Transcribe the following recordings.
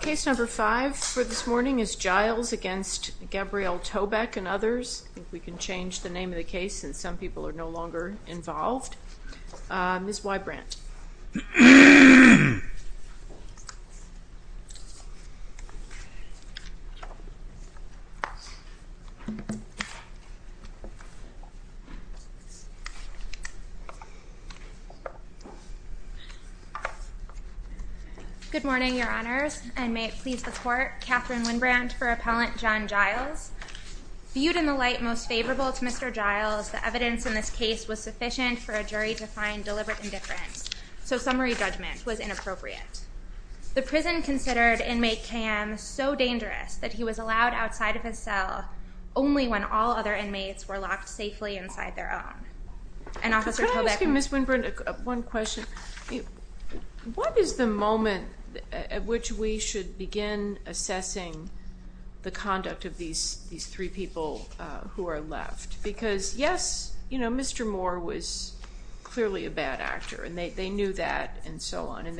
Case number 5 is Giles v. Gabrielle Tobeck and others, I think we can change the name of the case since some people are no longer involved, Ms. Y. Brandt. Good morning, your honors. And may it please the court, Katherine Winn-Brandt for Appellant John Giles. Viewed in the light most favorable to Mr. Giles, the evidence in this case was sufficient for a jury to find deliberate indifference. So summary judgment was inappropriate. The prison considered inmate KM so dangerous that he was allowed outside of his cell only when all other inmates were locked safely inside their own. And Officer Tobeck. Ms. Winn-Brandt, one question. What is the moment at which we should begin assessing the conduct of these three people who are left? Because yes, Mr. Moore was clearly a bad actor. And they knew that and so on. And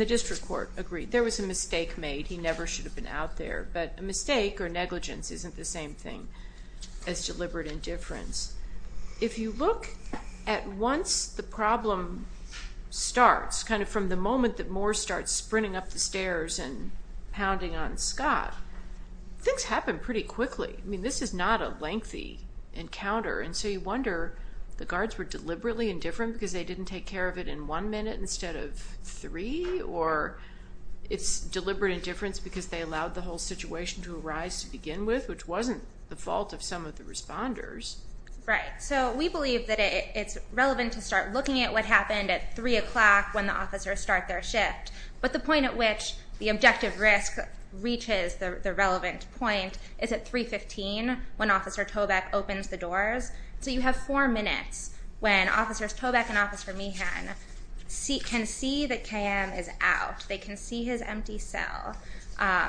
the district court agreed. There was a mistake made. He never should have been out there. But a mistake or negligence isn't the same thing as deliberate indifference. If you look at once the problem starts, kind of from the moment that Moore starts sprinting up the stairs and pounding on Scott, things happen pretty quickly. I mean, this is not a lengthy encounter. And so you wonder, the guards were deliberately indifferent because they didn't take care of it in one minute instead of three? Or it's deliberate indifference because they allowed the whole situation to arise to begin with, which wasn't the fault of some of the responders. Right, so we believe that it's relevant to start looking at what happened at 3 o'clock when the officers start their shift. But the point at which the objective risk reaches the relevant point is at 315 when Officer Tobeck opens the doors. So you have four minutes when Officers Tobeck and Officer Meehan can see that KM is out. They can see his empty cell.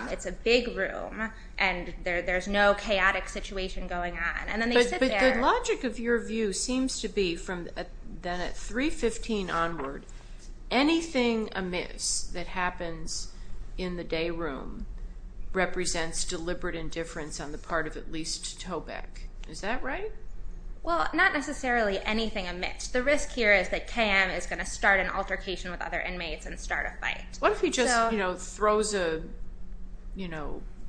It's a big room. And there's no chaotic situation going on. And then they sit there. But the logic of your view seems to be from then at 315 onward, anything amiss that happens in the day room represents deliberate indifference on the part of at least Tobeck. Is that right? Well, not necessarily anything amiss. The risk here is that KM is going to start an altercation with other inmates and start a fight. What if he just throws a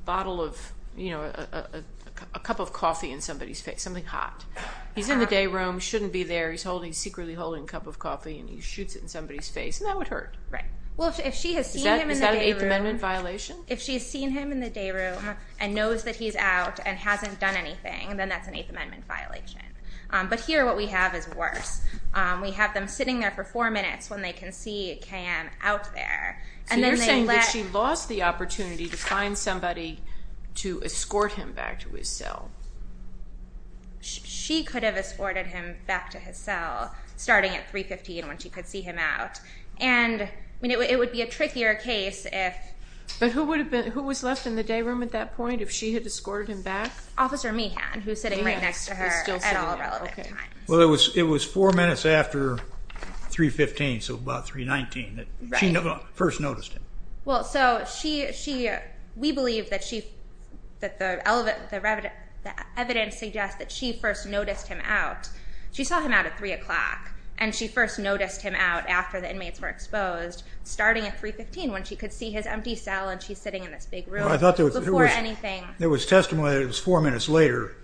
bottle of a cup of coffee in somebody's face, something hot? He's in the day room, shouldn't be there. He's secretly holding a cup of coffee and he shoots it in somebody's face, and that would hurt. Well, if she has seen him in the day room. Is that an Eighth Amendment violation? If she's seen him in the day room and knows that he's out and hasn't done anything, then that's an Eighth Amendment violation. But here what we have is worse. We have them sitting there for four minutes when they can see KM out there. So you're saying that she lost the opportunity to find somebody to escort him back to his cell. She could have escorted him back to his cell starting at 315 when she could see him out. And it would be a trickier case if. But who was left in the day room at that point if she had escorted him back? Officer Meehan, who's sitting right next to her at all relevant times. Well, it was four minutes after 315, so about 319, that she first noticed him. Well, so we believe that the evidence suggests that she first noticed him out. She saw him out at 3 o'clock. And she first noticed him out after the inmates were exposed starting at 315 when she could see his empty cell. And she's sitting in this big room before anything. There was testimony that it was four minutes later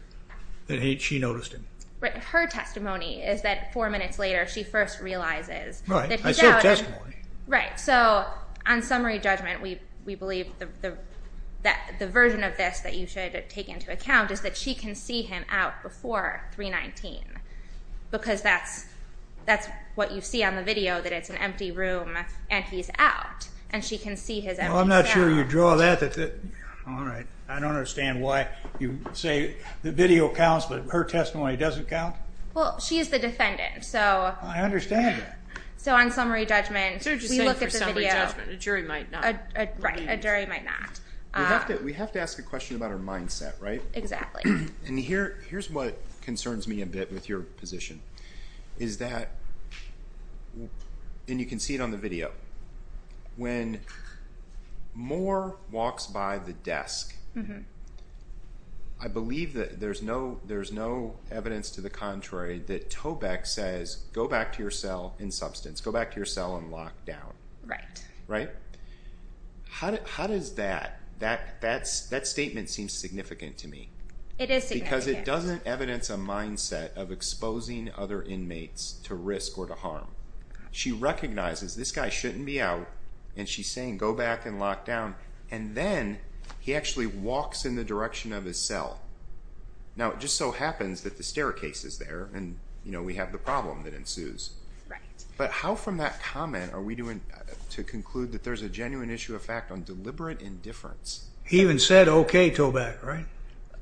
that she noticed him. Her testimony is that four minutes later, she first realizes that he's out. Right, I said testimony. Right, so on summary judgment, we believe that the version of this that you should take into account is that she can see him out before 319. Because that's what you see on the video, that it's an empty room and he's out. And she can see his empty cell. Well, I'm not sure you draw that. All right, I don't understand why you say the video counts, but her testimony doesn't count? Well, she is the defendant, so. I understand that. So on summary judgment, we look at the video. So you're just saying for summary judgment, a jury might not. Right, a jury might not. We have to ask a question about her mindset, right? Exactly. And here's what concerns me a bit with your position, is that, and you can see it on the video, when Moore walks by the desk, I believe that there's no evidence to the contrary that Toback says, go back to your cell in substance. Go back to your cell and lock down. Right. Right? How does that, that statement seems significant to me. It is significant. Because it doesn't evidence a mindset of exposing other inmates to risk or to harm. She recognizes this guy shouldn't be out, and she's saying, go back and lock down. And then, he actually walks in the direction of his cell. Now, it just so happens that the staircase is there, and we have the problem that ensues. Right. But how from that comment are we doing to conclude that there's a genuine issue of fact on deliberate indifference? He even said, okay, Toback, right?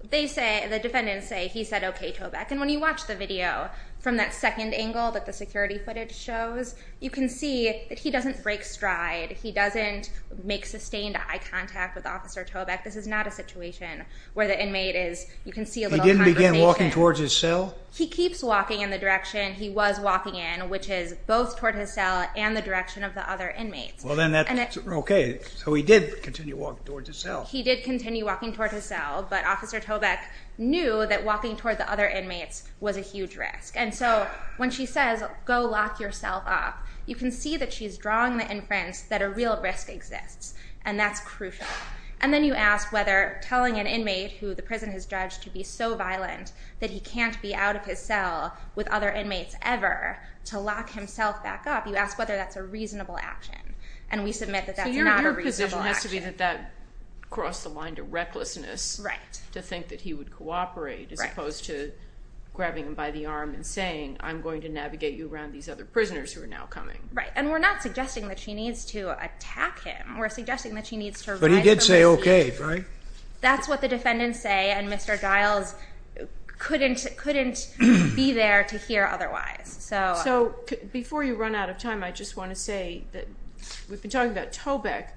They say, the defendants say, he said, okay, Toback. And when you watch the video from that second angle that the security footage shows, you can see that he doesn't break stride. He doesn't make sustained eye contact with Officer Toback. This is not a situation where the inmate is, you can see a little conversation. He didn't begin walking towards his cell? He keeps walking in the direction he was walking in, which is both toward his cell and the direction of the other inmates. Well, then that's, okay. So, he did continue walking towards his cell. He did continue walking towards his cell, but Officer Toback knew that walking toward the other inmates was a huge risk. And so, when she says, go lock yourself up, you can see that she's drawing the inference that a real risk exists, and that's crucial. And then you ask whether telling an inmate who the prison has judged to be so violent that he can't be out of his cell with other inmates ever to lock himself back up, you ask whether that's a reasonable action. And we submit that that's not a reasonable action. So, your position has to be that that crossed the line to recklessness. Right. To think that he would cooperate as opposed to grabbing him by the arm and saying, I'm going to navigate you around these other prisoners who are now coming. Right, and we're not suggesting that she needs to attack him. We're suggesting that she needs to rise from the seat. But he did say, okay, right? That's what the defendants say, and Mr. Giles couldn't be there to hear otherwise. So. So, before you run out of time, I just want to say that we've been talking about Toback.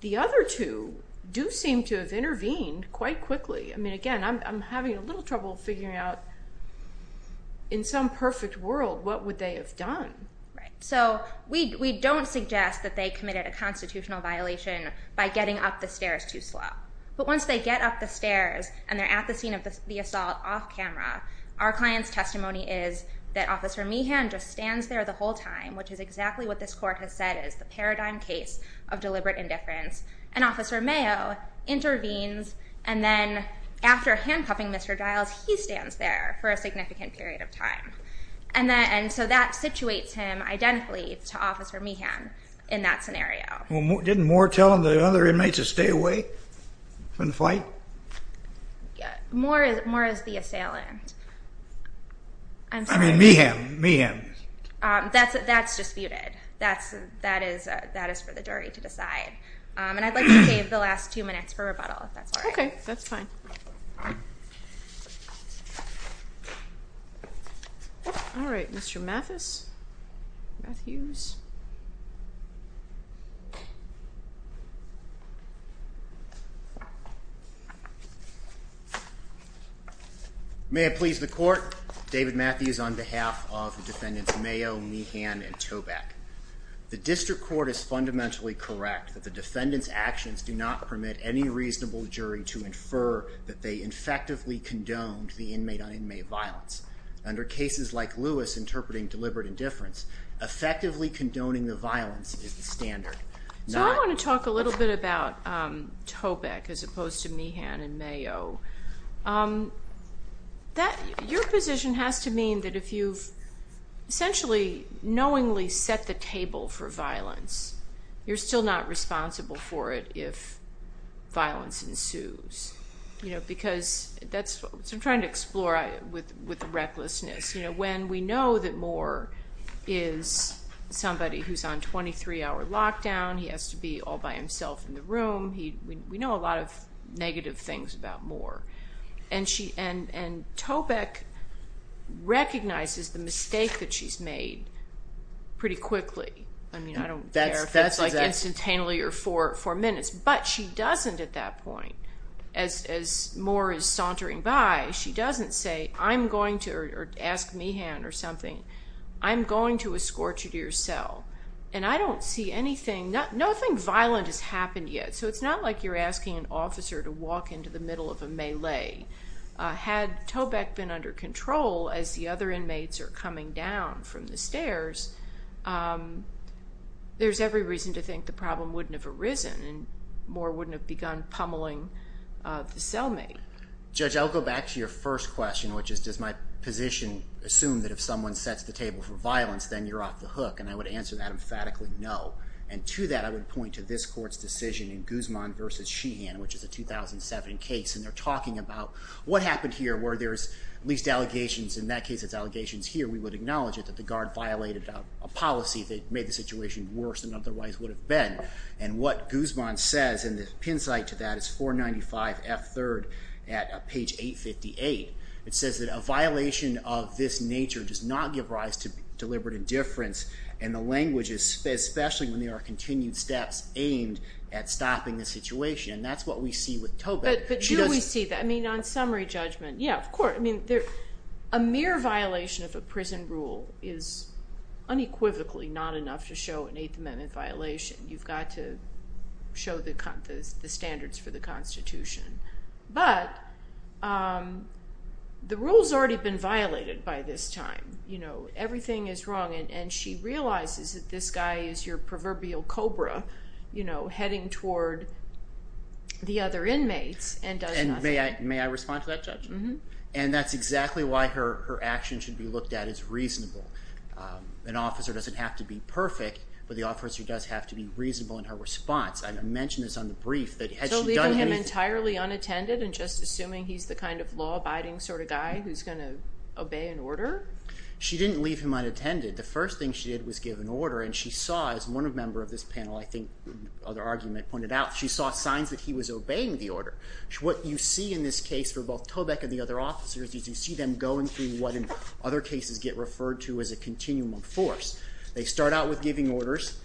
The other two do seem to have intervened quite quickly. I mean, again, I'm having a little trouble figuring out in some perfect world, what would they have done? Right, so we don't suggest that they committed a constitutional violation by getting up the stairs too slow. But once they get up the stairs and they're at the scene of the assault off camera, our client's testimony is that Officer Meehan just stands there the whole time, which is exactly what this court has said is the paradigm case of deliberate indifference. And Officer Mayo intervenes, and then after handcuffing Mr. Giles, he stands there for a significant period of time. And so that situates him identically to Officer Meehan in that scenario. Didn't Moore tell the other inmates to stay away from the fight? Yeah, Moore is the assailant. I'm sorry. I mean, Meehan, Meehan. That's disputed, that is for the jury to decide. And I'd like to save the last two minutes for rebuttal, if that's all right. Okay, that's fine. All right, Mr. Mathis, Matthews. May I please the court? David Matthews on behalf of the defendants Mayo, Meehan, and Toback. The district court is fundamentally correct that the defendant's actions do not permit any reasonable jury to infer that they infectively condoned the inmate-on-inmate violence under cases like Lewis, interpreting deliberate indifference. Effectively condoning the violence is the standard. So I want to talk a little bit about Toback as opposed to Meehan and Mayo. Your position has to mean that if you've essentially knowingly set the table for violence, you're still not responsible for it if violence ensues. Because that's what I'm trying to explore with the recklessness. When we know that Moore is somebody who's on 23-hour lockdown, he has to be all by himself in the room, we know a lot of negative things about Moore. And Toback recognizes the mistake that she's made pretty quickly. I mean, I don't care if it's like instantaneously or for four minutes, but she doesn't at that point. As Moore is sauntering by, she doesn't say, I'm going to, or ask Meehan or something, I'm going to escort you to your cell. And I don't see anything, nothing violent has happened yet. So it's not like you're asking an officer to walk into the middle of a melee. Had Toback been under control as the other inmates are coming down from the stairs, there's every reason to think the problem wouldn't have arisen and Moore wouldn't have begun pummeling the cellmate. Judge, I'll go back to your first question, which is, does my position assume that if someone sets the table for violence, then you're off the hook? And I would answer that emphatically, no. And to that, I would point to this court's decision in Guzman versus Sheehan, which is a 2007 case. And they're talking about what happened here where there's at least allegations, in that case, it's allegations here, we would acknowledge it, that the guard violated a policy that made the situation worse than otherwise would have been. And what Guzman says, and the pin site to that is 495F3rd at page 858. It says that a violation of this nature does not give rise to deliberate indifference in the language, especially when there are continued steps aimed at stopping the situation. And that's what we see with Toback. She doesn't- But do we see that? I mean, on summary judgment, yeah, of course. I mean, a mere violation of a prison rule is unequivocally not enough to show an Eighth Amendment violation. You've got to show the standards for the Constitution. But the rule's already been violated by this time. Everything is wrong, and she realizes that this guy is your proverbial cobra heading toward the other inmates and does nothing. May I respond to that, Judge? And that's exactly why her action should be looked at as reasonable. An officer doesn't have to be perfect, but the officer does have to be reasonable in her response. I mentioned this on the brief that had she done anything- So leaving him entirely unattended and just assuming he's the kind of law-abiding sort of guy who's gonna obey an order? She didn't leave him unattended. The first thing she did was give an order, and she saw, as one member of this panel, I think, other argument pointed out, she saw signs that he was obeying the order. What you see in this case for both Toback and the other officers is you see them going through what in other cases get referred to as a continuum of force. They start out with giving orders.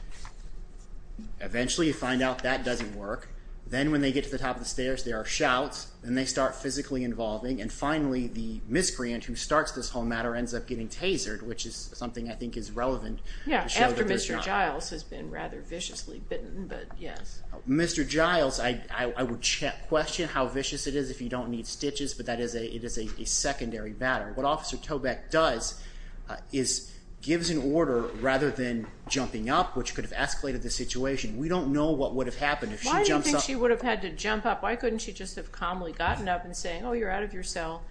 Eventually, you find out that doesn't work. Then when they get to the top of the stairs, there are shouts, and they start physically involving, and finally, the miscreant who starts this whole matter ends up getting tasered, which is something I think is relevant to show that there's not- Yeah, after Mr. Giles has been rather viciously bitten, but yes. Mr. Giles, I would question how vicious it is if you don't need stitches, but it is a secondary matter. What Officer Toback does is gives an order rather than jumping up, which could have escalated the situation. We don't know what would have happened if she jumps up. Why do you think she would have had to jump up? Why couldn't she just have calmly gotten up and saying, oh, you're out of your cell.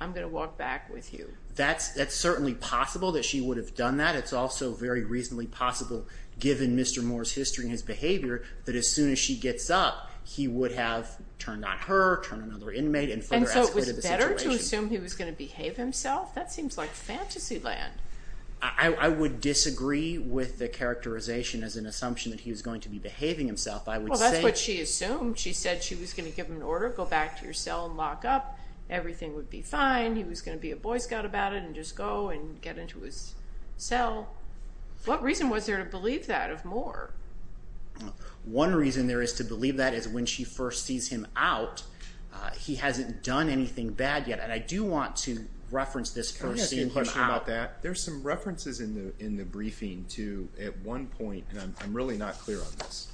I'm going to walk back with you. That's certainly possible that she would have done that. It's also very reasonably possible, given Mr. Moore's history and his behavior, that as soon as she gets up, he would have turned on her, turned on another inmate, and further escalated the situation. Is it better to assume he was going to behave himself? That seems like fantasy land. I would disagree with the characterization as an assumption that he was going to be behaving himself. I would say- Well, that's what she assumed. She said she was going to give him an order, go back to your cell and lock up. Everything would be fine. He was going to be a boy scout about it and just go and get into his cell. What reason was there to believe that of Moore? One reason there is to believe that is when she first sees him out, he hasn't done anything bad yet. And I do want to reference this for seeing him out. Can I ask you a question about that? There's some references in the briefing to, at one point, and I'm really not clear on this,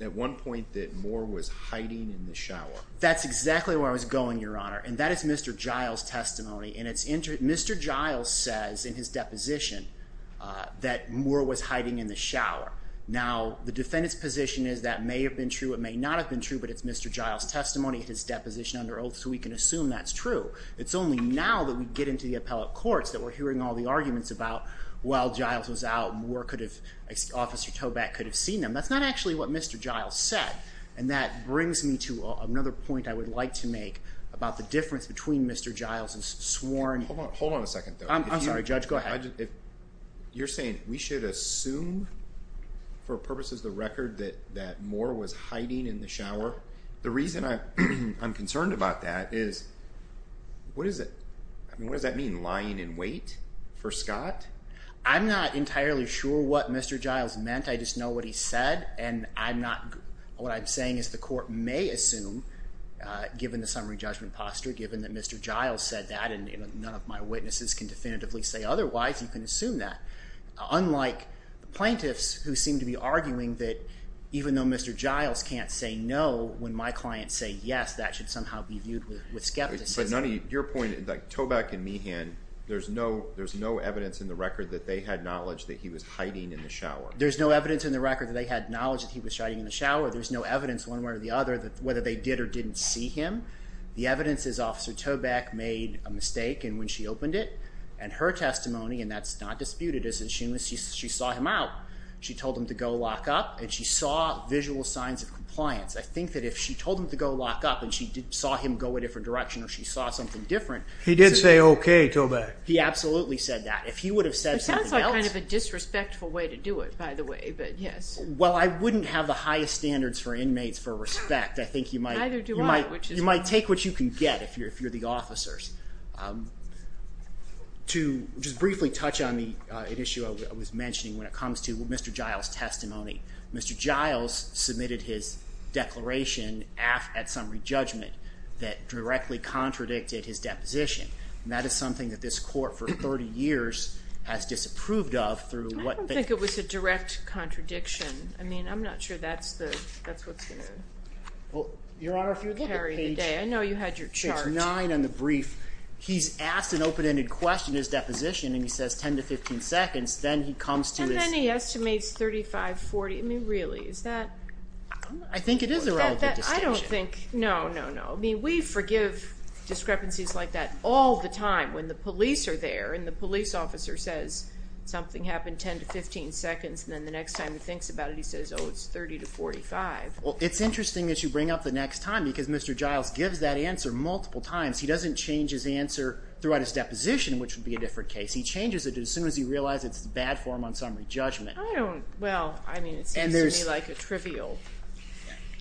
at one point that Moore was hiding in the shower. That's exactly where I was going, Your Honor. And that is Mr. Giles' testimony. And Mr. Giles says in his deposition that Moore was hiding in the shower. Now, the defendant's position is that may have been true, it may not have been true, but it's Mr. Giles' testimony, his deposition under oath, so we can assume that's true. It's only now that we get into the appellate courts that we're hearing all the arguments about while Giles was out, Moore could have, Officer Toback could have seen him. That's not actually what Mr. Giles said. And that brings me to another point I would like to make about the difference between Mr. Giles' sworn. Hold on a second, though. I'm sorry, Judge, go ahead. You're saying we should assume, for purposes of the record, that Moore was hiding in the shower? The reason I'm concerned about that is, what does that mean, lying in wait for Scott? I'm not entirely sure what Mr. Giles meant. I just know what he said, and what I'm saying is the court may assume, given the summary judgment posture, given that Mr. Giles said that, and none of my witnesses can definitively say otherwise, you can assume that. Unlike the plaintiffs who seem to be arguing that even though Mr. Giles can't say no, when my clients say yes, that should somehow be viewed with skepticism. But your point, Toback and Meehan, there's no evidence in the record that they had knowledge that he was hiding in the shower. There's no evidence in the record that they had knowledge that he was hiding in the shower. There's no evidence one way or the other that whether they did or didn't see him. The evidence is Officer Toback made a mistake, and when she opened it, and her testimony, and that's not disputed, is that she saw him out. She told him to go lock up, and she saw visual signs of compliance. I think that if she told him to go lock up, and she saw him go a different direction, or she saw something different. He did say okay, Toback. He absolutely said that. If he would have said something else. It sounds like kind of a disrespectful way to do it, by the way, but yes. Well, I wouldn't have the highest standards for inmates for respect. I think you might take what you can get if you're the officers. To just briefly touch on an issue I was mentioning when it comes to Mr. Giles' testimony. Mr. Giles submitted his declaration at some re-judgment that directly contradicted his deposition, and that is something that this court for 30 years has disapproved of through what they. I don't think it was a direct contradiction. I mean, I'm not sure that's what's gonna. Well, Your Honor, if you look at page. I know you had your chart. Page nine on the brief. He's asked an open-ended question in his deposition, and he says 10 to 15 seconds. Then he comes to his. And then he estimates 35, 40. I mean, really, is that? I think it is a relative distinction. I don't think, no, no, no. I mean, we forgive discrepancies like that all the time when the police are there and the police officer says something happened 10 to 15 seconds, and then the next time he thinks about it, he says, oh, it's 30 to 45. Well, it's interesting that you bring up the next time because Mr. Giles gives that answer multiple times. He doesn't change his answer throughout his deposition, which would be a different case. He changes it as soon as he realized it's bad for him on summary judgment. I don't, well, I mean, it seems to me like a trivial recollection.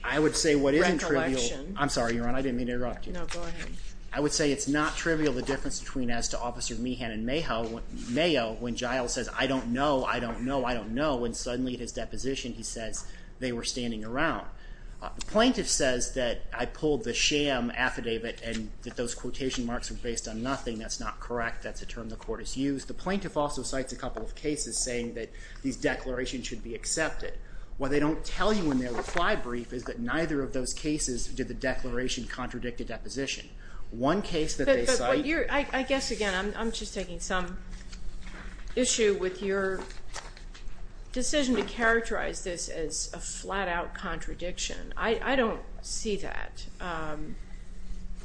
I would say what isn't trivial, I'm sorry, Your Honor, I didn't mean to interrupt you. No, go ahead. I would say it's not trivial, the difference between as to Officer Meehan and Mayo when Giles says, I don't know, I don't know, I don't know, when suddenly his deposition, he says they were standing around. The plaintiff says that I pulled the sham affidavit and that those quotation marks were based on nothing. That's not correct. That's a term the court has used. The plaintiff also cites a couple of cases saying that these declarations should be accepted. What they don't tell you in their reply brief is that neither of those cases did the declaration contradict a deposition. One case that they cite- I guess, again, I'm just taking some issue with your decision to characterize this as a flat-out contradiction. I don't see that.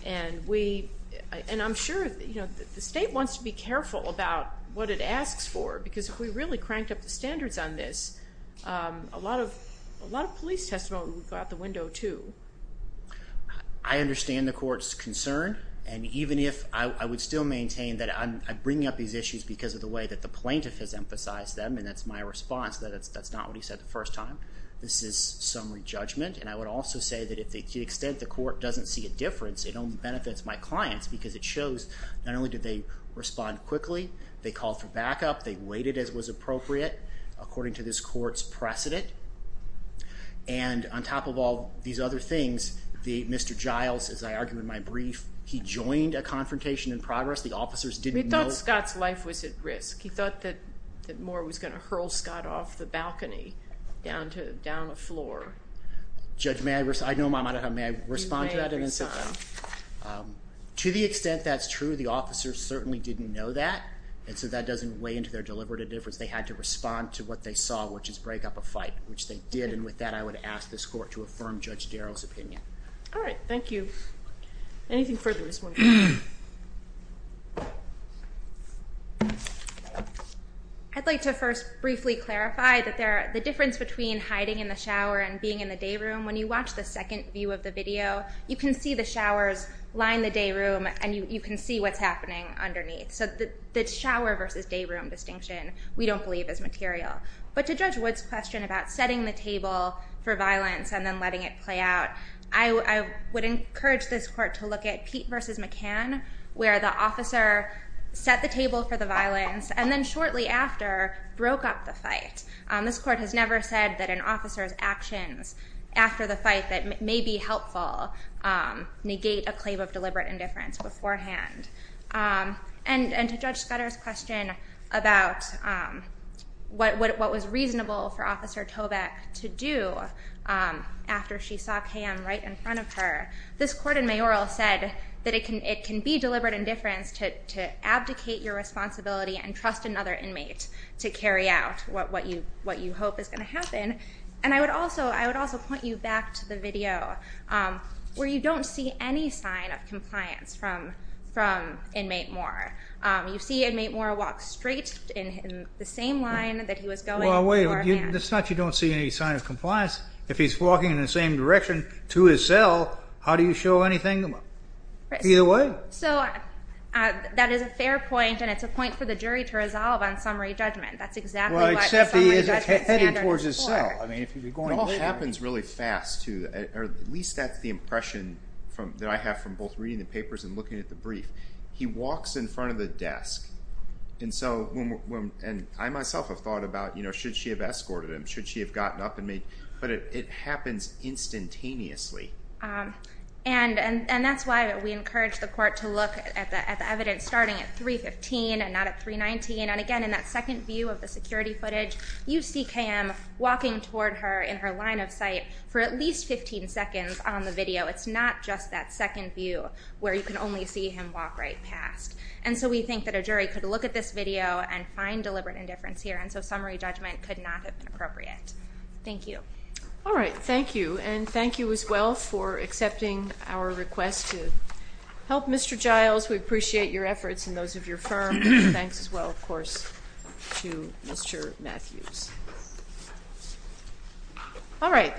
And I'm sure the state wants to be careful about what it asks for because if we really cranked up the standards on this, a lot of police testimony would go out the window too. I understand the court's concern and even if I would still maintain that I'm bringing up these issues because of the way that the plaintiff has emphasized them and that's my response, that's not what he said the first time. This is summary judgment and I would also say that to the extent the court doesn't see a difference, it only benefits my clients because it shows not only did they respond quickly, they called for backup, they waited as was appropriate according to this court's precedent and on top of all these other things, Mr. Giles, as I argue in my brief, he joined a confrontation in progress. The officers didn't know- We thought Scott's life was at risk. He thought that Moore was going to hurl Scott off the balcony down a floor. Judge, may I- Of course, I know my monitor. May I respond to that and then sit down? To the extent that's true, the officers certainly didn't know that and so that doesn't weigh into their deliberative difference. They had to respond to what they saw, which is break up a fight, which they did and with that, I would ask this court to affirm Judge Darrell's opinion. All right, thank you. Anything further this morning? I'd like to first briefly clarify that the difference between hiding in the shower and being in the day room, when you watch the second view of the video, you can see the showers line the day room and you can see what's happening underneath. So the shower versus day room distinction, we don't believe is material. But to Judge Wood's question about setting the table for violence and then letting it play out, I would encourage this court to look at Pete versus McCann, where the officer set the table for the violence and then shortly after, broke up the fight. This court has never said that an officer's actions after the fight that may be helpful, negate a claim of deliberate indifference beforehand. And to Judge Scudder's question about what was reasonable for Officer Toback to do after she saw Pam right in front of her, this court in mayoral said that it can be deliberate indifference to abdicate your responsibility and trust another inmate to carry out what you hope is gonna happen. And I would also point you back to the video where you don't see any sign of compliance from inmate Moore. You see inmate Moore walk straight in the same line that he was going. Well, wait, it's not you don't see any sign of compliance. If he's walking in the same direction to his cell, how do you show anything to him? Either way. So that is a fair point and it's a point for the jury to resolve on summary judgment. That's exactly what summary judgment standard is for. I mean, if you're going later. It all happens really fast too, or at least that's the impression that I have from both reading the papers and looking at the brief. He walks in front of the desk. And so, and I myself have thought about, should she have escorted him? Should she have gotten up and made? But it happens instantaneously. And that's why we encourage the court to look at the evidence starting at 315 and not at 319. And again, in that second view of the security footage, you see Cam walking toward her in her line of sight for at least 15 seconds on the video. It's not just that second view where you can only see him walk right past. And so we think that a jury could look at this video and find deliberate indifference here. And so summary judgment could not have been appropriate. Thank you. All right, thank you. And thank you as well for accepting our request to help Mr. Giles. We appreciate your efforts and those of your firm. Thanks as well, of course, to Mr. Matthews. All right.